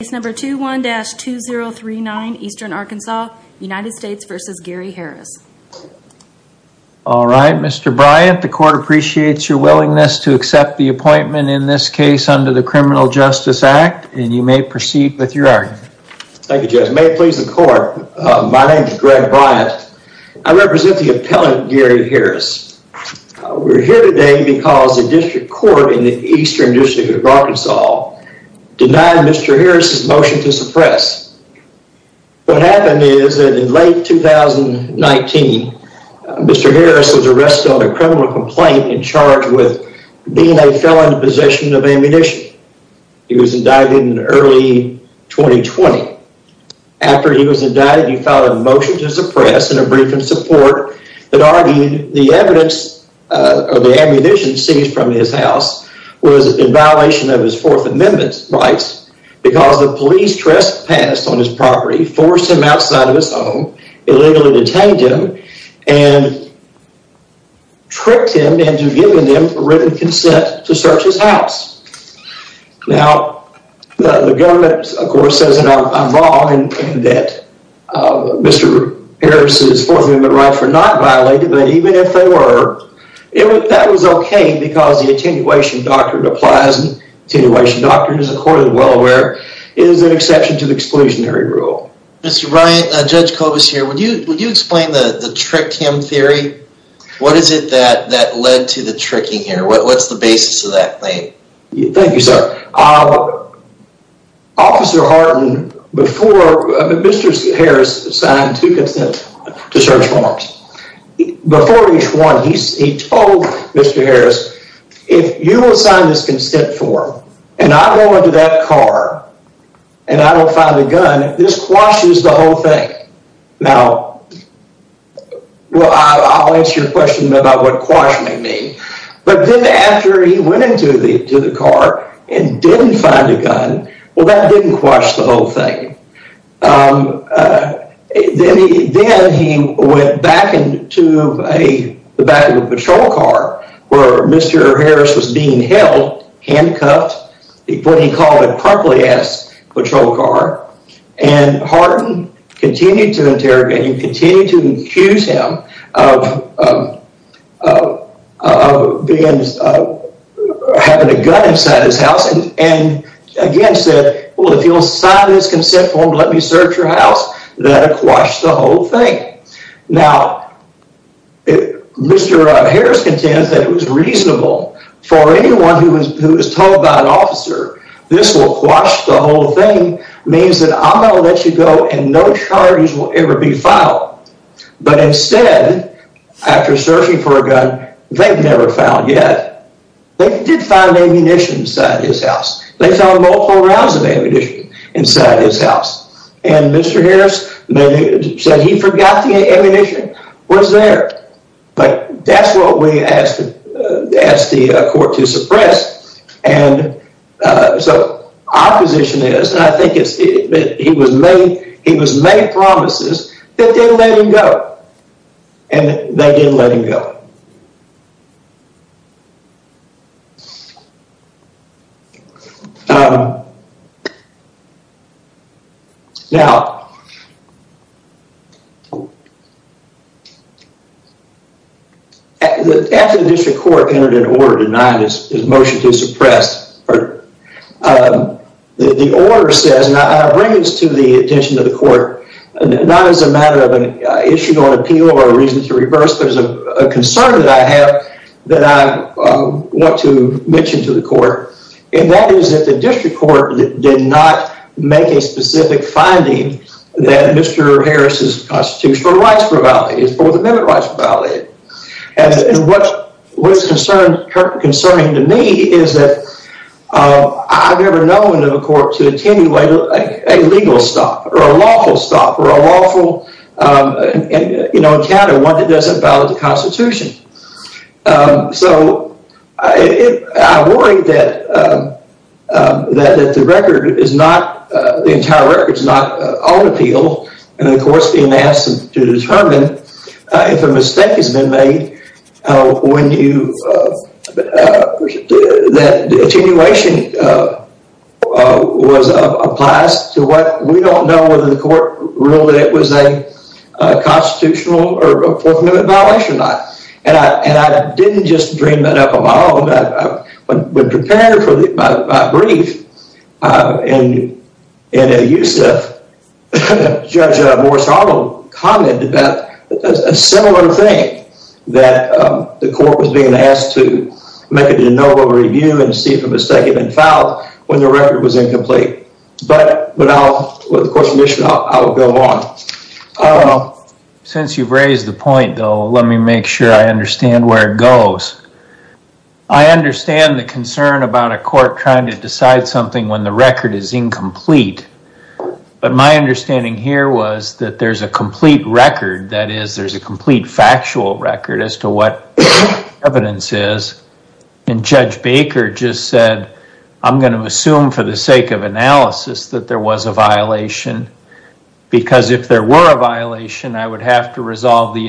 Case number 21-2039, Eastern Arkansas, United States v. Gary Harris. All right, Mr. Bryant, the court appreciates your willingness to accept the appointment in this case under the Criminal Justice Act, and you may proceed with your argument. Thank you, Judge. May it please the court, my name is Greg Bryant. I represent the appellant Gary Harris. We're here today because the district court in the Eastern District of to suppress. What happened is that in late 2019, Mr. Harris was arrested on a criminal complaint and charged with being a felon in possession of ammunition. He was indicted in early 2020. After he was indicted, he filed a motion to suppress and a brief in support that argued the evidence of the ammunition seized from his house was in violation of his Fourth Amendment rights because the police trespassed on his property, forced him outside of his home, illegally detained him, and tricked him into giving him written consent to search his house. Now, the government, of course, says in our law that Mr. Harris's Fourth Amendment rights were not violated, but even if they were, that was okay because the attenuation doctrine applies and the attenuation doctrine, as the court is well aware, is an exception to the exclusionary rule. Mr. Bryant, Judge Kobus here, would you explain the trick him theory? What is it that led to the tricking here? What's the basis of that claim? Thank you, sir. Officer Harden, before Mr. Harris signed two consent to search forms, before each one, he told Mr. Harris, if you assign this consent form and I go into that car and I don't find a gun, this quashes the whole thing. Now, I'll answer your question about what quashing may mean, but then after he went into the car and didn't find a gun, well, that didn't quash the whole thing. Then he went back into the back of a patrol car where Mr. Harris was being held, handcuffed, what he called a crumply-ass patrol car, and Harden continued to interrogate him, continued to accuse him of having a gun inside his house and again said, well, if you'll sign this consent form, let me search your house, that would quash the whole thing. Now, Mr. Harris contends that it was reasonable for anyone who was told by an officer, this will quash the whole thing, means that I'm going to let you go and no charges will ever be filed. But instead, after searching for a gun, they've never found yet, they did find ammunition inside his house. They found multiple rounds of ammunition inside his house. And Mr. Harris said he forgot the ammunition was there, but that's what we asked the court to suppress. And so our position is, and I think it's, he was made promises that didn't let him go, and they didn't let him go. Now, after the district court entered an order denying his motion to suppress, the order says, and I bring this to the attention of the court, not as a matter of an issue on appeal or a reason to reverse, but as a concern that I have that I want to mention to the court, and that is that the district court did not make a specific finding that Mr. Harris' constitutional rights were violated, his Fourth Amendment rights were violated. And what is concerning to me is that I've never known of a court to attenuate a legal stop or a lawful stop or a lawful, you know, encounter one that doesn't violate the Constitution. So I worry that the record is not, the entire record is not on appeal, and the court's being asked to determine if a mistake has been made when you, that attenuation was, applies to what, we don't know whether the court ruled that it was a constitutional or a Fourth Amendment violation or not. And I didn't just dream that up at all, but prepared for my brief, and Yusef, Judge Morris-Arnold, commented about a similar thing, that the court was being asked to make a de novo review and see if a mistake had been filed when the record was incomplete. But I'll, with the court's permission, I'll go on. Since you've raised the point, though, let me make sure I understand where it goes. I understand the concern about a court trying to decide something when the record is incomplete. But my understanding here was that there's a complete record, that is, there's a complete factual record as to what the evidence is. And Judge Baker just said, I'm going to assume for the sake of analysis that there was a violation, because if there were a violation, I would have to resolve the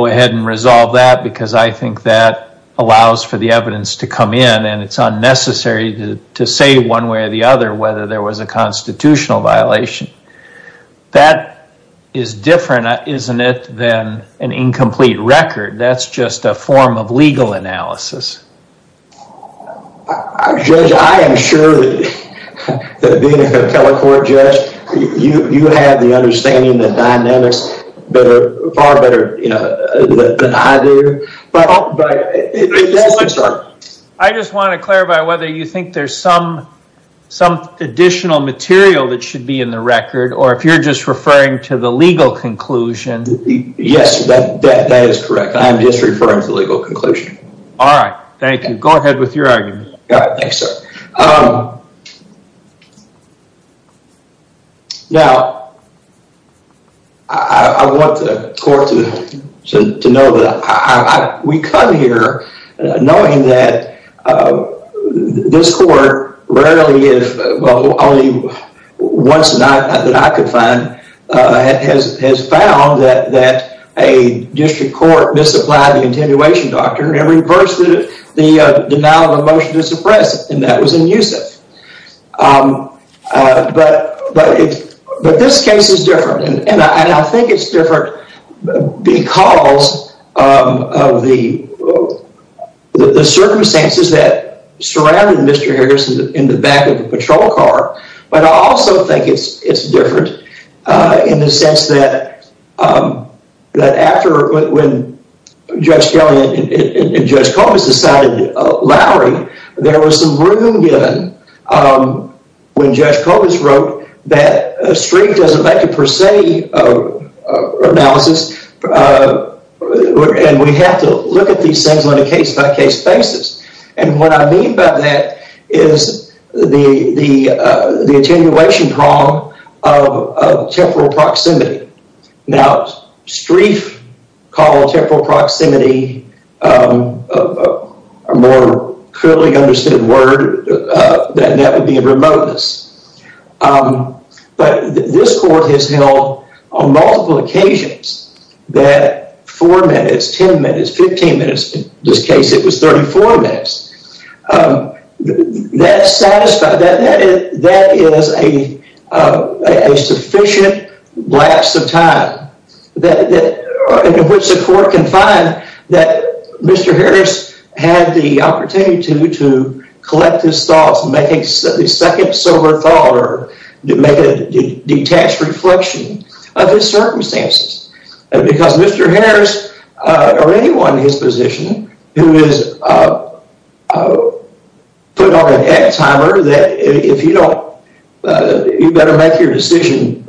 that, because I think that allows for the evidence to come in, and it's unnecessary to say one way or the other whether there was a constitutional violation. That is different, isn't it, than an incomplete record. That's just a form of legal analysis. Judge, I am sure that being a appellate court judge, you have the understanding and the dynamics far better than I do. I just want to clarify whether you think there's some additional material that should be in the record, or if you're just referring to the legal conclusion. Yes, that is correct. I'm just referring to the legal conclusion. All right, thank you. Go ahead with your argument. Thanks, sir. Now, I want the court to know that we come here knowing that this court rarely, if only once a night that I could find, has found that a district court misapplied the attenuation doctrine and reversed the denial of a motion to suppress it, and that was in Youssef. But this case is different, and I think it's different because of the circumstances that surrounded Mr. Harrison in the back of a patrol car, but I also think it's different in the sense that after when Judge Kelley and Judge Colgis decided Lowry, there was some room given when Judge Colgis wrote that a street doesn't make a per se analysis, and we have to look at these things on a case-by-case basis. And what I mean by that is the attenuation problem of temporal proximity. Now, Streiff called temporal proximity a more clearly understood word, that that would be a remoteness. But this court has held on multiple occasions that 4 minutes, 10 minutes, 15 minutes, in this case it was 34 minutes. That is a sufficient lapse of time in which the court can find that Mr. Harris had the opportunity to collect his thoughts, make a second sober thought, or make a detached reflection of his circumstances, because Mr. Harris or anyone in his position who is put on an egg timer that if you don't, you better make your decision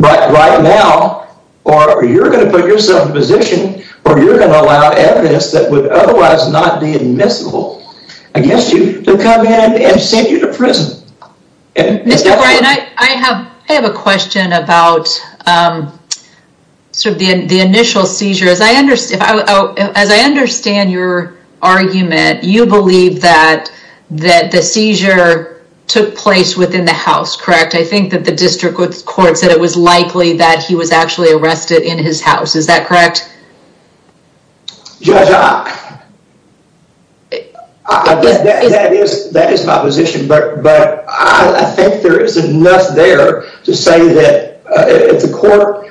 right now, or you're going to put yourself in a position where you're going to allow evidence that would otherwise not be admissible against you to come in and send you to prison. Mr. Ryan, I have a question about the initial seizure. As I understand your argument, you believe that the seizure took place within the house, correct? I think that the district court said it was likely that he was actually arrested in his house, is that correct? Judge, that is my position, but I think there is enough there to say that if the court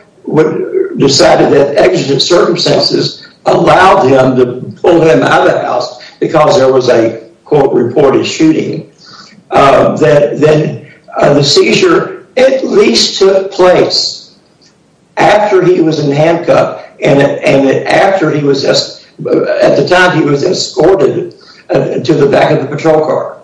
decided that exigent circumstances allowed him to pull him out of the house because there was a court-reported shooting, then the seizure at least took place after he was in handcuffs and at the time he was escorted to the back of the patrol car.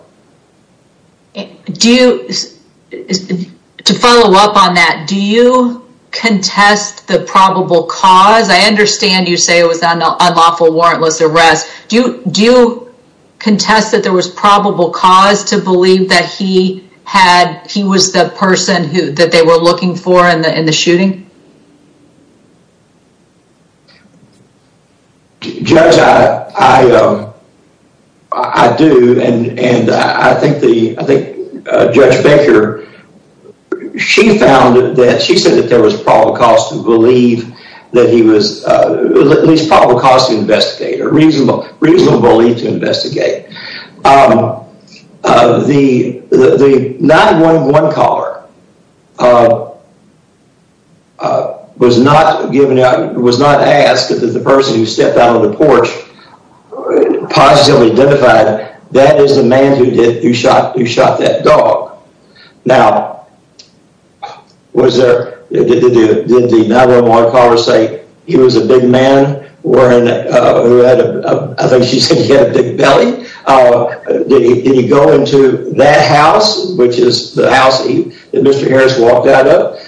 To follow up on that, do you contest the probable cause? I understand you say it was an unlawful warrantless arrest. Do you contest that there was probable cause to believe that he was the person that they were looking for in the shooting? Judge, I do, and I think Judge Baker, she said that there was probable cause to believe that he was, at least probable cause to investigate or reasonable belief to investigate. The 911 caller was not asked if the person who stepped out of the porch positively identified, that is the man who shot that dog. Now, did the 911 caller say he was a big man, I think she said he had a big belly? Did he go into that house, which is the house that Mr. Harris walked out of?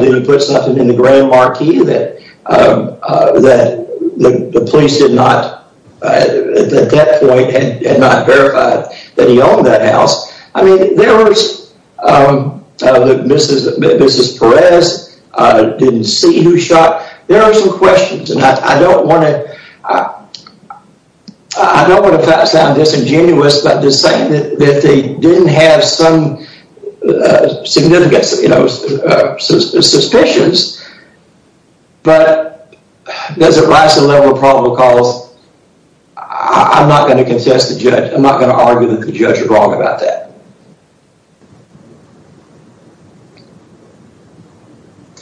Did he put something in the grand marquee that the police did not at that point verify that he owned that house? Mrs. Perez didn't see who shot. There are some questions, and I don't want to sound disingenuous by saying that they didn't have some significant suspicions, but does it rise to the level of probable cause? I'm not going to argue that the judge is wrong about that.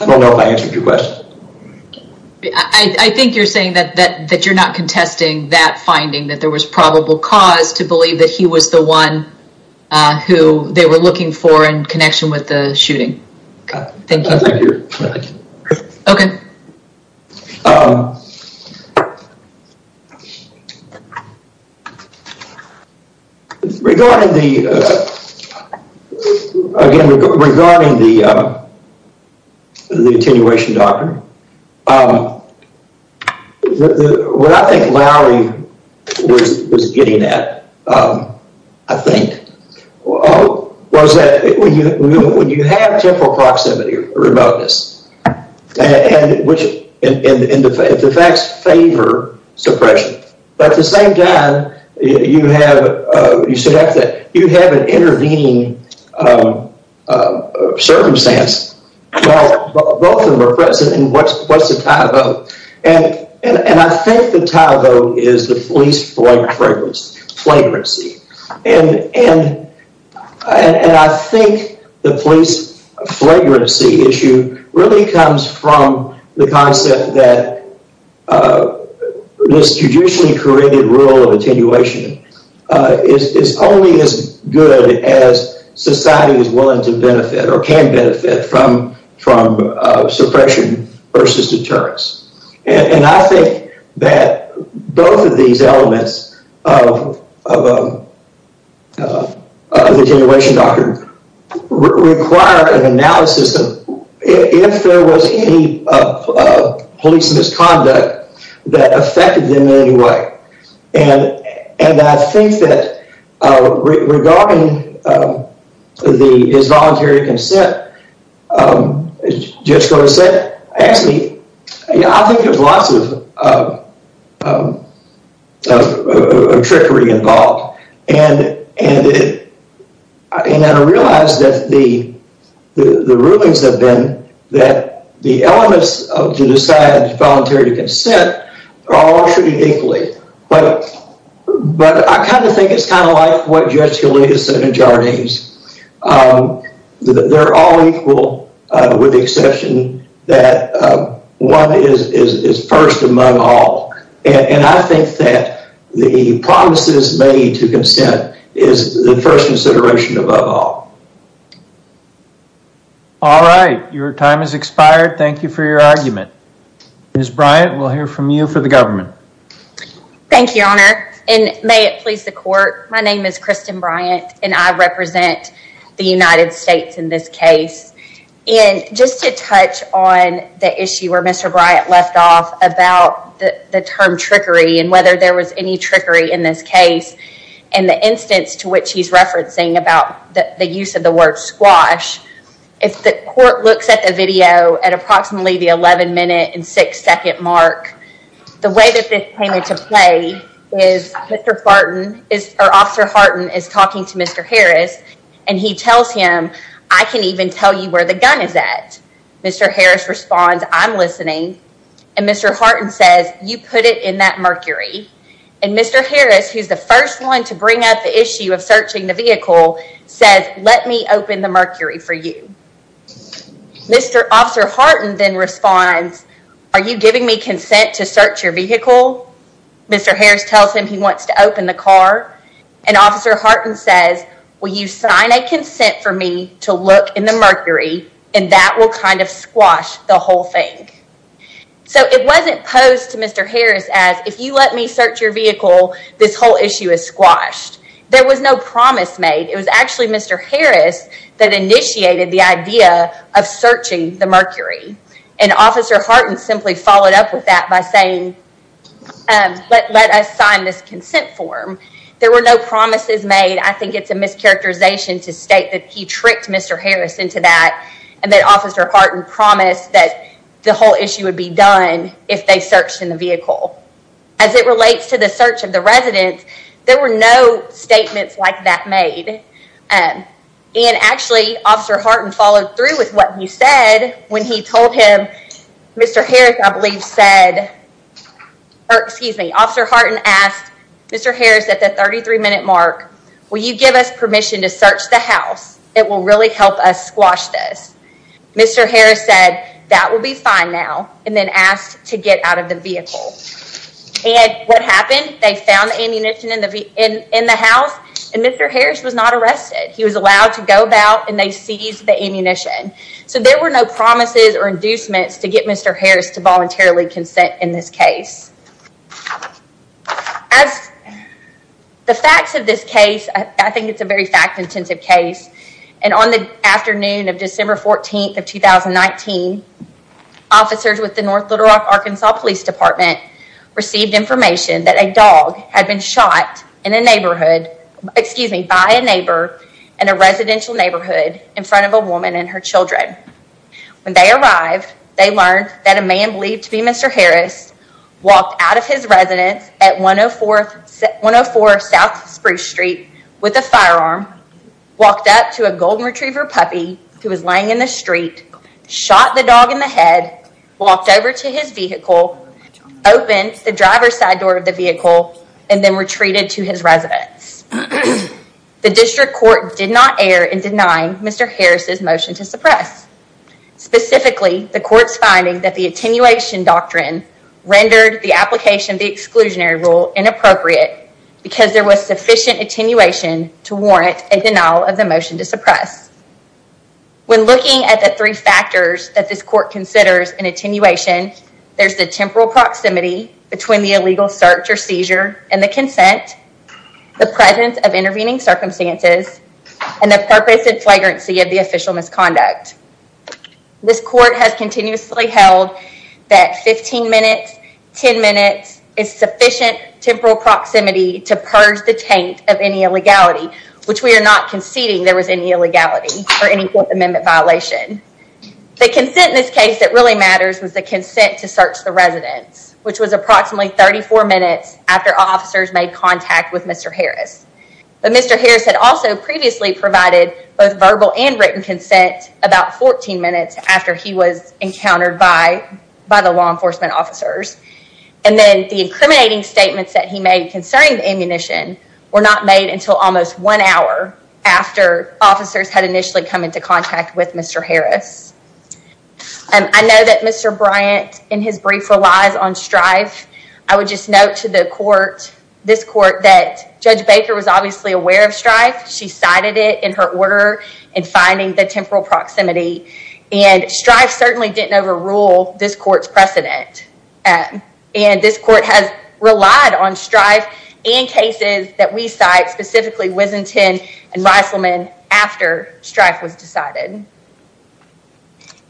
I don't know if I answered your question. I think you're saying that you're not contesting that finding, that there was probable cause to believe that he was the one who they were looking for in connection with the shooting. Thank you. Okay. Regarding the, again, regarding the attenuation doctor, what I think Lowry was getting at, I think, was that when you have temporal proximity remoteness, and the facts favor suppression, but at the same time, you have an intervening circumstance. Both of them are present, and what's the tie vote? I think the tie vote is the police flagrancy, and I think the police flagrancy issue really comes from the concept that this traditionally created rule of attenuation is only as good as society is willing to benefit or can benefit from suppression versus deterrence. And I think that both of these elements of the attenuation doctor require an analysis of if there was any police misconduct that affected them in any way. And I think that regarding his voluntary consent, as Judge Cota said, actually, I think there's lots of trickery involved, and I realize that the rulings have been that the elements to decide voluntary consent are all treated equally. But I kind of think it's kind of like what Judge Helita said in Jardine's. They're all equal, with the exception that one is first among all. And I think that the promises made to consent is the first consideration above all. All right. Your time has expired. Thank you for your argument. Ms. Bryant, we'll hear from you for the government. Thank you, Your Honor. And may it please the court, my name is Kristen Bryant, and I represent the United States in this case. And just to touch on the issue where Mr. Bryant left off about the term trickery and whether there was any trickery in this case, and the instance to which he's referencing about the use of the word squash, if the court looks at the video at approximately the 11 minute and 6 second mark, the way that this came into play is Mr. Hartin, or Officer Hartin is talking to Mr. Harris, and he tells him, I can even tell you where the gun is at. Mr. Harris responds, I'm listening. And Mr. Hartin says, you put it in that mercury. And Mr. Harris, who's the first one to bring up the issue of searching the vehicle, says, let me open the mercury for you. Mr. Officer Hartin then responds, are you giving me consent to search your vehicle? Mr. Harris tells him he wants to open the car, and Officer Hartin says, will you sign a consent for me to look in the mercury, and that will kind of squash the whole thing. So it wasn't posed to Mr. Harris as, if you let me search your vehicle, this whole issue is squashed. There was no promise made. It was actually Mr. Harris that initiated the idea of searching the mercury. And Officer Hartin simply followed up with that by saying, let us sign this consent form. There were no promises made. I think it's a mischaracterization to state that he tricked Mr. Harris into that, and that Officer Hartin promised that the whole issue would be done if they searched in the vehicle. As it relates to the search of the residence, there were no statements like that made. And actually, Officer Hartin followed through with what he said when he told him, Mr. Harris I believe said, or excuse me, Officer Hartin asked Mr. Harris at the 33 minute mark, will you give us permission to search the house? It will really help us squash this. Mr. Harris said, that will be fine now, and then asked to get out of the vehicle. And what happened, they found the ammunition in the house, and Mr. Harris was not arrested. He was allowed to go about, and they seized the ammunition. So there were no promises or inducements to get Mr. Harris to voluntarily consent in this case. As the facts of this case, I think it's a very fact-intensive case. And on the afternoon of December 14th of 2019, officers with the North Little Rock, Arkansas Police Department received information that a dog had been shot in a neighborhood, excuse me, by a neighbor in a residential neighborhood in front of a woman and her children. When they arrived, they learned that a man believed to be Mr. Harris walked out of his residence at 104 South Spruce Street with a firearm, walked up to a golden retriever puppy who was laying in the street, shot the dog in the head, walked over to his vehicle, opened the driver's side door of the vehicle, and then retreated to his residence. The district court did not err in denying Mr. Harris' motion to suppress. Specifically, the court's finding that the attenuation doctrine rendered the application of the exclusionary rule inappropriate because there was sufficient attenuation to warrant a denial of the motion to suppress. When looking at the three factors that this court considers in attenuation, there's the temporal proximity between the illegal search or seizure and the consent, the presence of intervening circumstances, and the purpose and flagrancy of the official misconduct. This court has continuously held that 15 minutes, 10 minutes is sufficient temporal proximity to purge the taint of any illegality, which we are not conceding there was any illegality or any Fourth Amendment violation. The consent in this case that really matters was the consent to search the residence, which was approximately 34 minutes after officers made contact with Mr. Harris. But Mr. Harris had also previously provided both verbal and written consent about 14 minutes after he was encountered by the law enforcement officers. And then the incriminating statements that he made concerning the ammunition were not made until almost one hour after officers had initially come into contact with Mr. Harris. I know that Mr. Bryant in his brief relies on strife. I would just note to the court, this court, that Judge Baker was obviously aware of strife. She cited it in her order in finding the temporal proximity. And strife certainly didn't overrule this court's precedent. And this court has relied on strife in cases that we cite, specifically Wisenton and Reiselman, after strife was decided.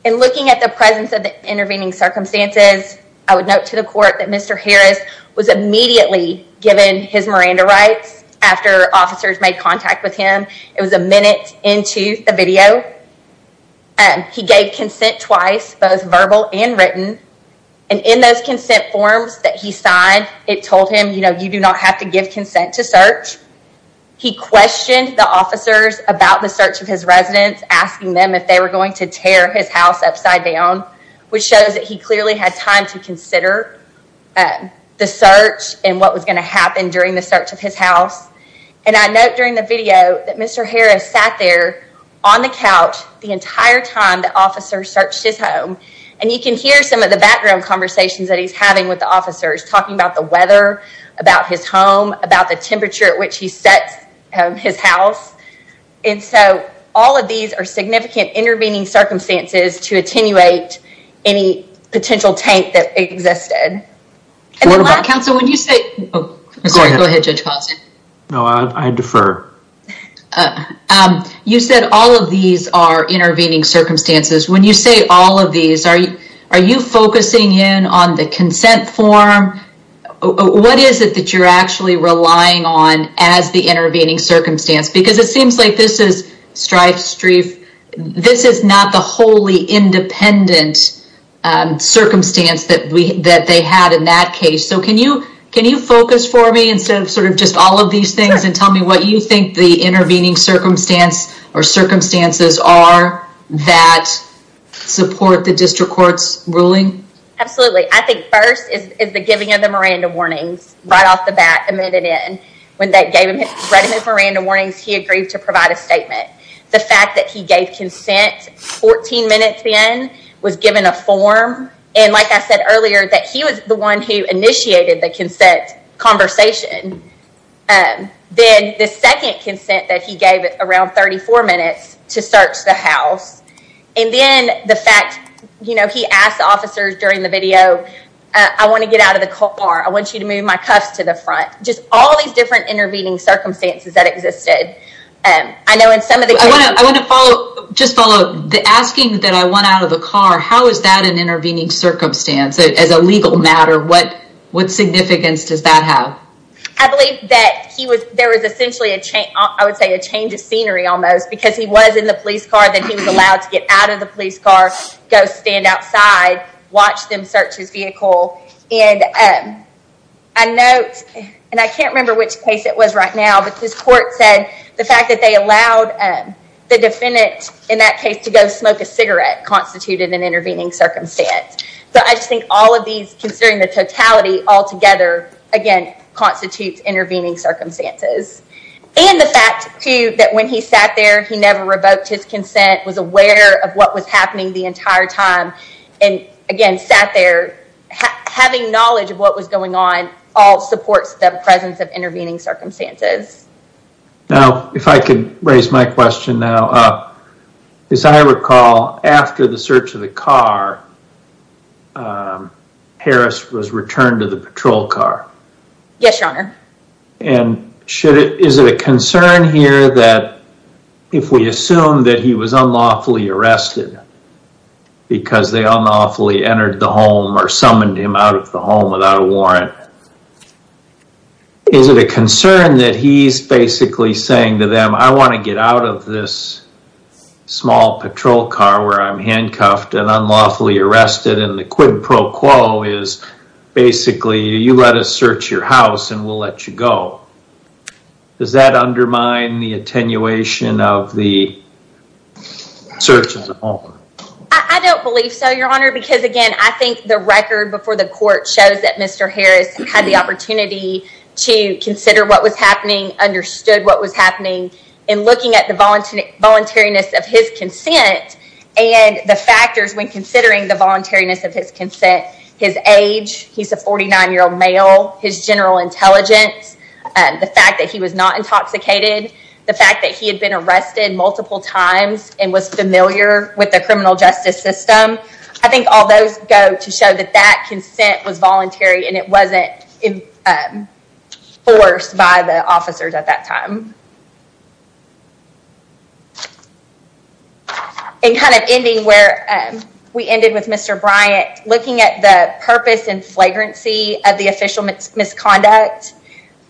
And looking at the presence of the intervening circumstances, I would note to the court that Mr. Harris was immediately given his Miranda rights after officers made contact with him. It was a minute into the video. He gave consent twice, both verbal and written. And in those consent forms that he signed, it told him, you know, you do not have to give consent to search. He questioned the officers about the search of his residence, asking them if they were going to tear his house upside down, which shows that he clearly had time to consider the search and what was going to happen during the search of his house. And I note during the video that Mr. Harris sat there on the couch the entire time that officers searched his home. And you can hear some of the background conversations that he's having with the officers, talking about the weather, about his home, about the temperature at which he sets his house. And so, all of these are significant intervening circumstances to attenuate any potential tank that existed. What about counsel, when you say... Go ahead, Judge Costin. No, I defer. You said all of these are intervening circumstances. When you say all of these, are you focusing in on the consent form? What is it that you're actually relying on as the intervening circumstance? Because it seems like this is strife, strife. This is not the wholly independent circumstance that they had in that case. So, can you focus for me instead of sort of just all of these things and tell me what you think the intervening circumstance or circumstances are that support the district court's ruling? Absolutely. I think first is the giving of the Miranda warnings, right off the bat, admitted in. When they read him his Miranda warnings, he agreed to provide a statement. The fact that he gave consent 14 minutes in, was given a form. And like I said earlier, that he was the one who initiated the consent conversation. Then, the second consent that he gave at around 34 minutes, to search the house. And then, the fact, you know, he asked the officers during the video, I want to get out of the car, I want you to move my cuffs to the front. Just all these different intervening circumstances that existed. I know in some of the cases... I want to follow, just follow, the asking that I want out of the car, how is that an intervening circumstance? As a legal matter, what significance does that have? I believe that he was, there was essentially a change, I would say a change of scenery almost. Because he was in the police car, then he was allowed to get out of the police car, go stand outside, watch them search his vehicle. And I note, and I can't remember which case it was right now, but this court said the fact that they allowed the defendant, in that case, to go smoke a cigarette, constituted an intervening circumstance. So I just think all of these, considering the totality altogether, again, constitutes intervening circumstances. And the fact, too, that when he sat there, he never revoked his consent, was aware of what was happening the entire time, and again, sat there, having knowledge of what was going on, all supports the presence of intervening circumstances. Now, if I could raise my question now. As I recall, after the search of the car, Harris was returned to the patrol car. Yes, Your Honor. And is it a concern here that, if we assume that he was unlawfully arrested because they unlawfully entered the home or summoned him out of the home without a warrant, is it a concern that he's basically saying to them, I want to get out of this small patrol car where I'm handcuffed and unlawfully arrested, and the quid pro quo is basically, you let us search your house and we'll let you go. Does that undermine the attenuation of the search of the home? I don't believe so, Your Honor, because again, I think the record before the court shows that Mr. Harris had the opportunity to consider what was happening, understood what was happening, and looking at the voluntariness of his consent and the factors when considering the voluntariness of his consent, his age, he's a 49-year-old male, his general intelligence, the fact that he was not intoxicated, the fact that he had been arrested multiple times and was familiar with the criminal justice system, I think all those go to show that that consent was voluntary and it wasn't forced by the officers at that time. And kind of ending where we ended with Mr. Bryant, looking at the purpose and flagrancy of the official misconduct,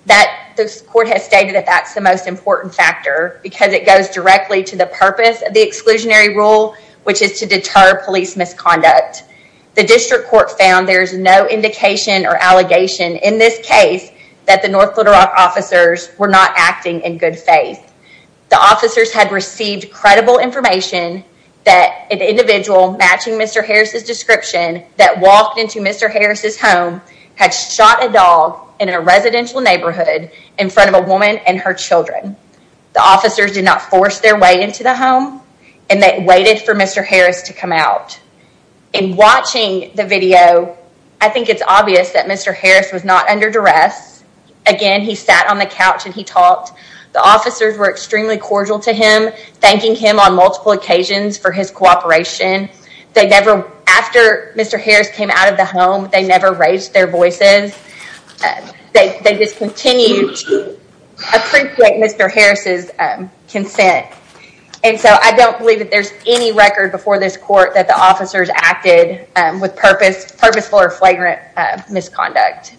the court has stated that that's the most important factor because it goes directly to the purpose of the exclusionary rule, which is to deter police misconduct. The district court found there's no indication or allegation in this case that the North Little Rock officers were not acting in good faith. The officers had received credible information that an individual matching Mr. Harris' description that walked into Mr. Harris' home had shot a dog in a residential neighborhood in front of a woman and her children. The officers did not force their way into the home and they waited for Mr. Harris to come out. In watching the video, I think it's obvious that Mr. Harris was not under duress. Again, he sat on the couch and he talked. The officers were extremely cordial to him, thanking him on multiple occasions for his cooperation. After Mr. Harris came out of the home, they never raised their voices. They just continued to appreciate Mr. Harris' consent. I don't believe that there's any record before this court that the officers acted with purposeful or flagrant misconduct.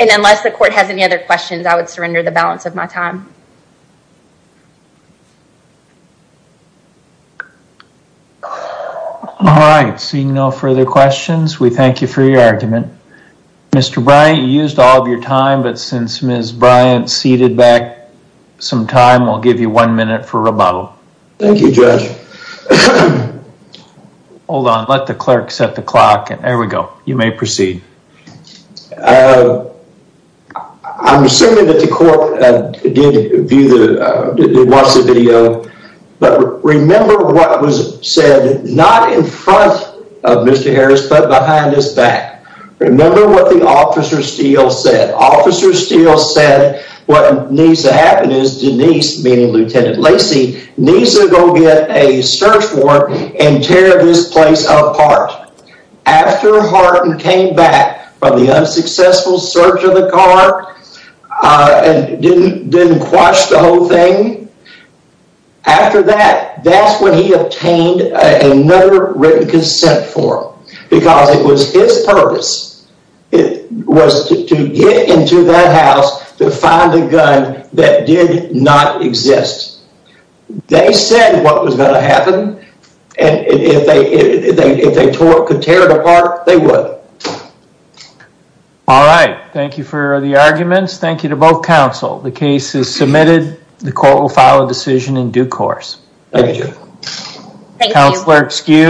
Unless the court has any other questions, I would surrender the balance of my time. Seeing no further questions, we thank you for your argument. Mr. Bryant, you used all of your time, but since Ms. Bryant seated back some time, we'll give you one minute for rebuttal. Thank you, Judge. Hold on. Let the clerk set the clock. There we go. You may proceed. I'm assuming that the court did watch the video, but remember what was said, not in front of Mr. Harris, but behind his back. Remember what the officer Steele said. Officer Steele said, what needs to happen is Denise, meaning Lieutenant Lacey, needs to go get a search warrant and tear this place apart. After Harden came back from the unsuccessful search of the car and didn't quash the whole thing, after that, that's when he obtained another written consent form and it was his purpose. It was to get into that house to find a gun that did not exist. They said what was going to happen and if they could tear it apart, they would. All right. Thank you for the arguments. Thank you to both counsel. The case is submitted. The court will file a decision in due course. Thank you, Judge. Thank you.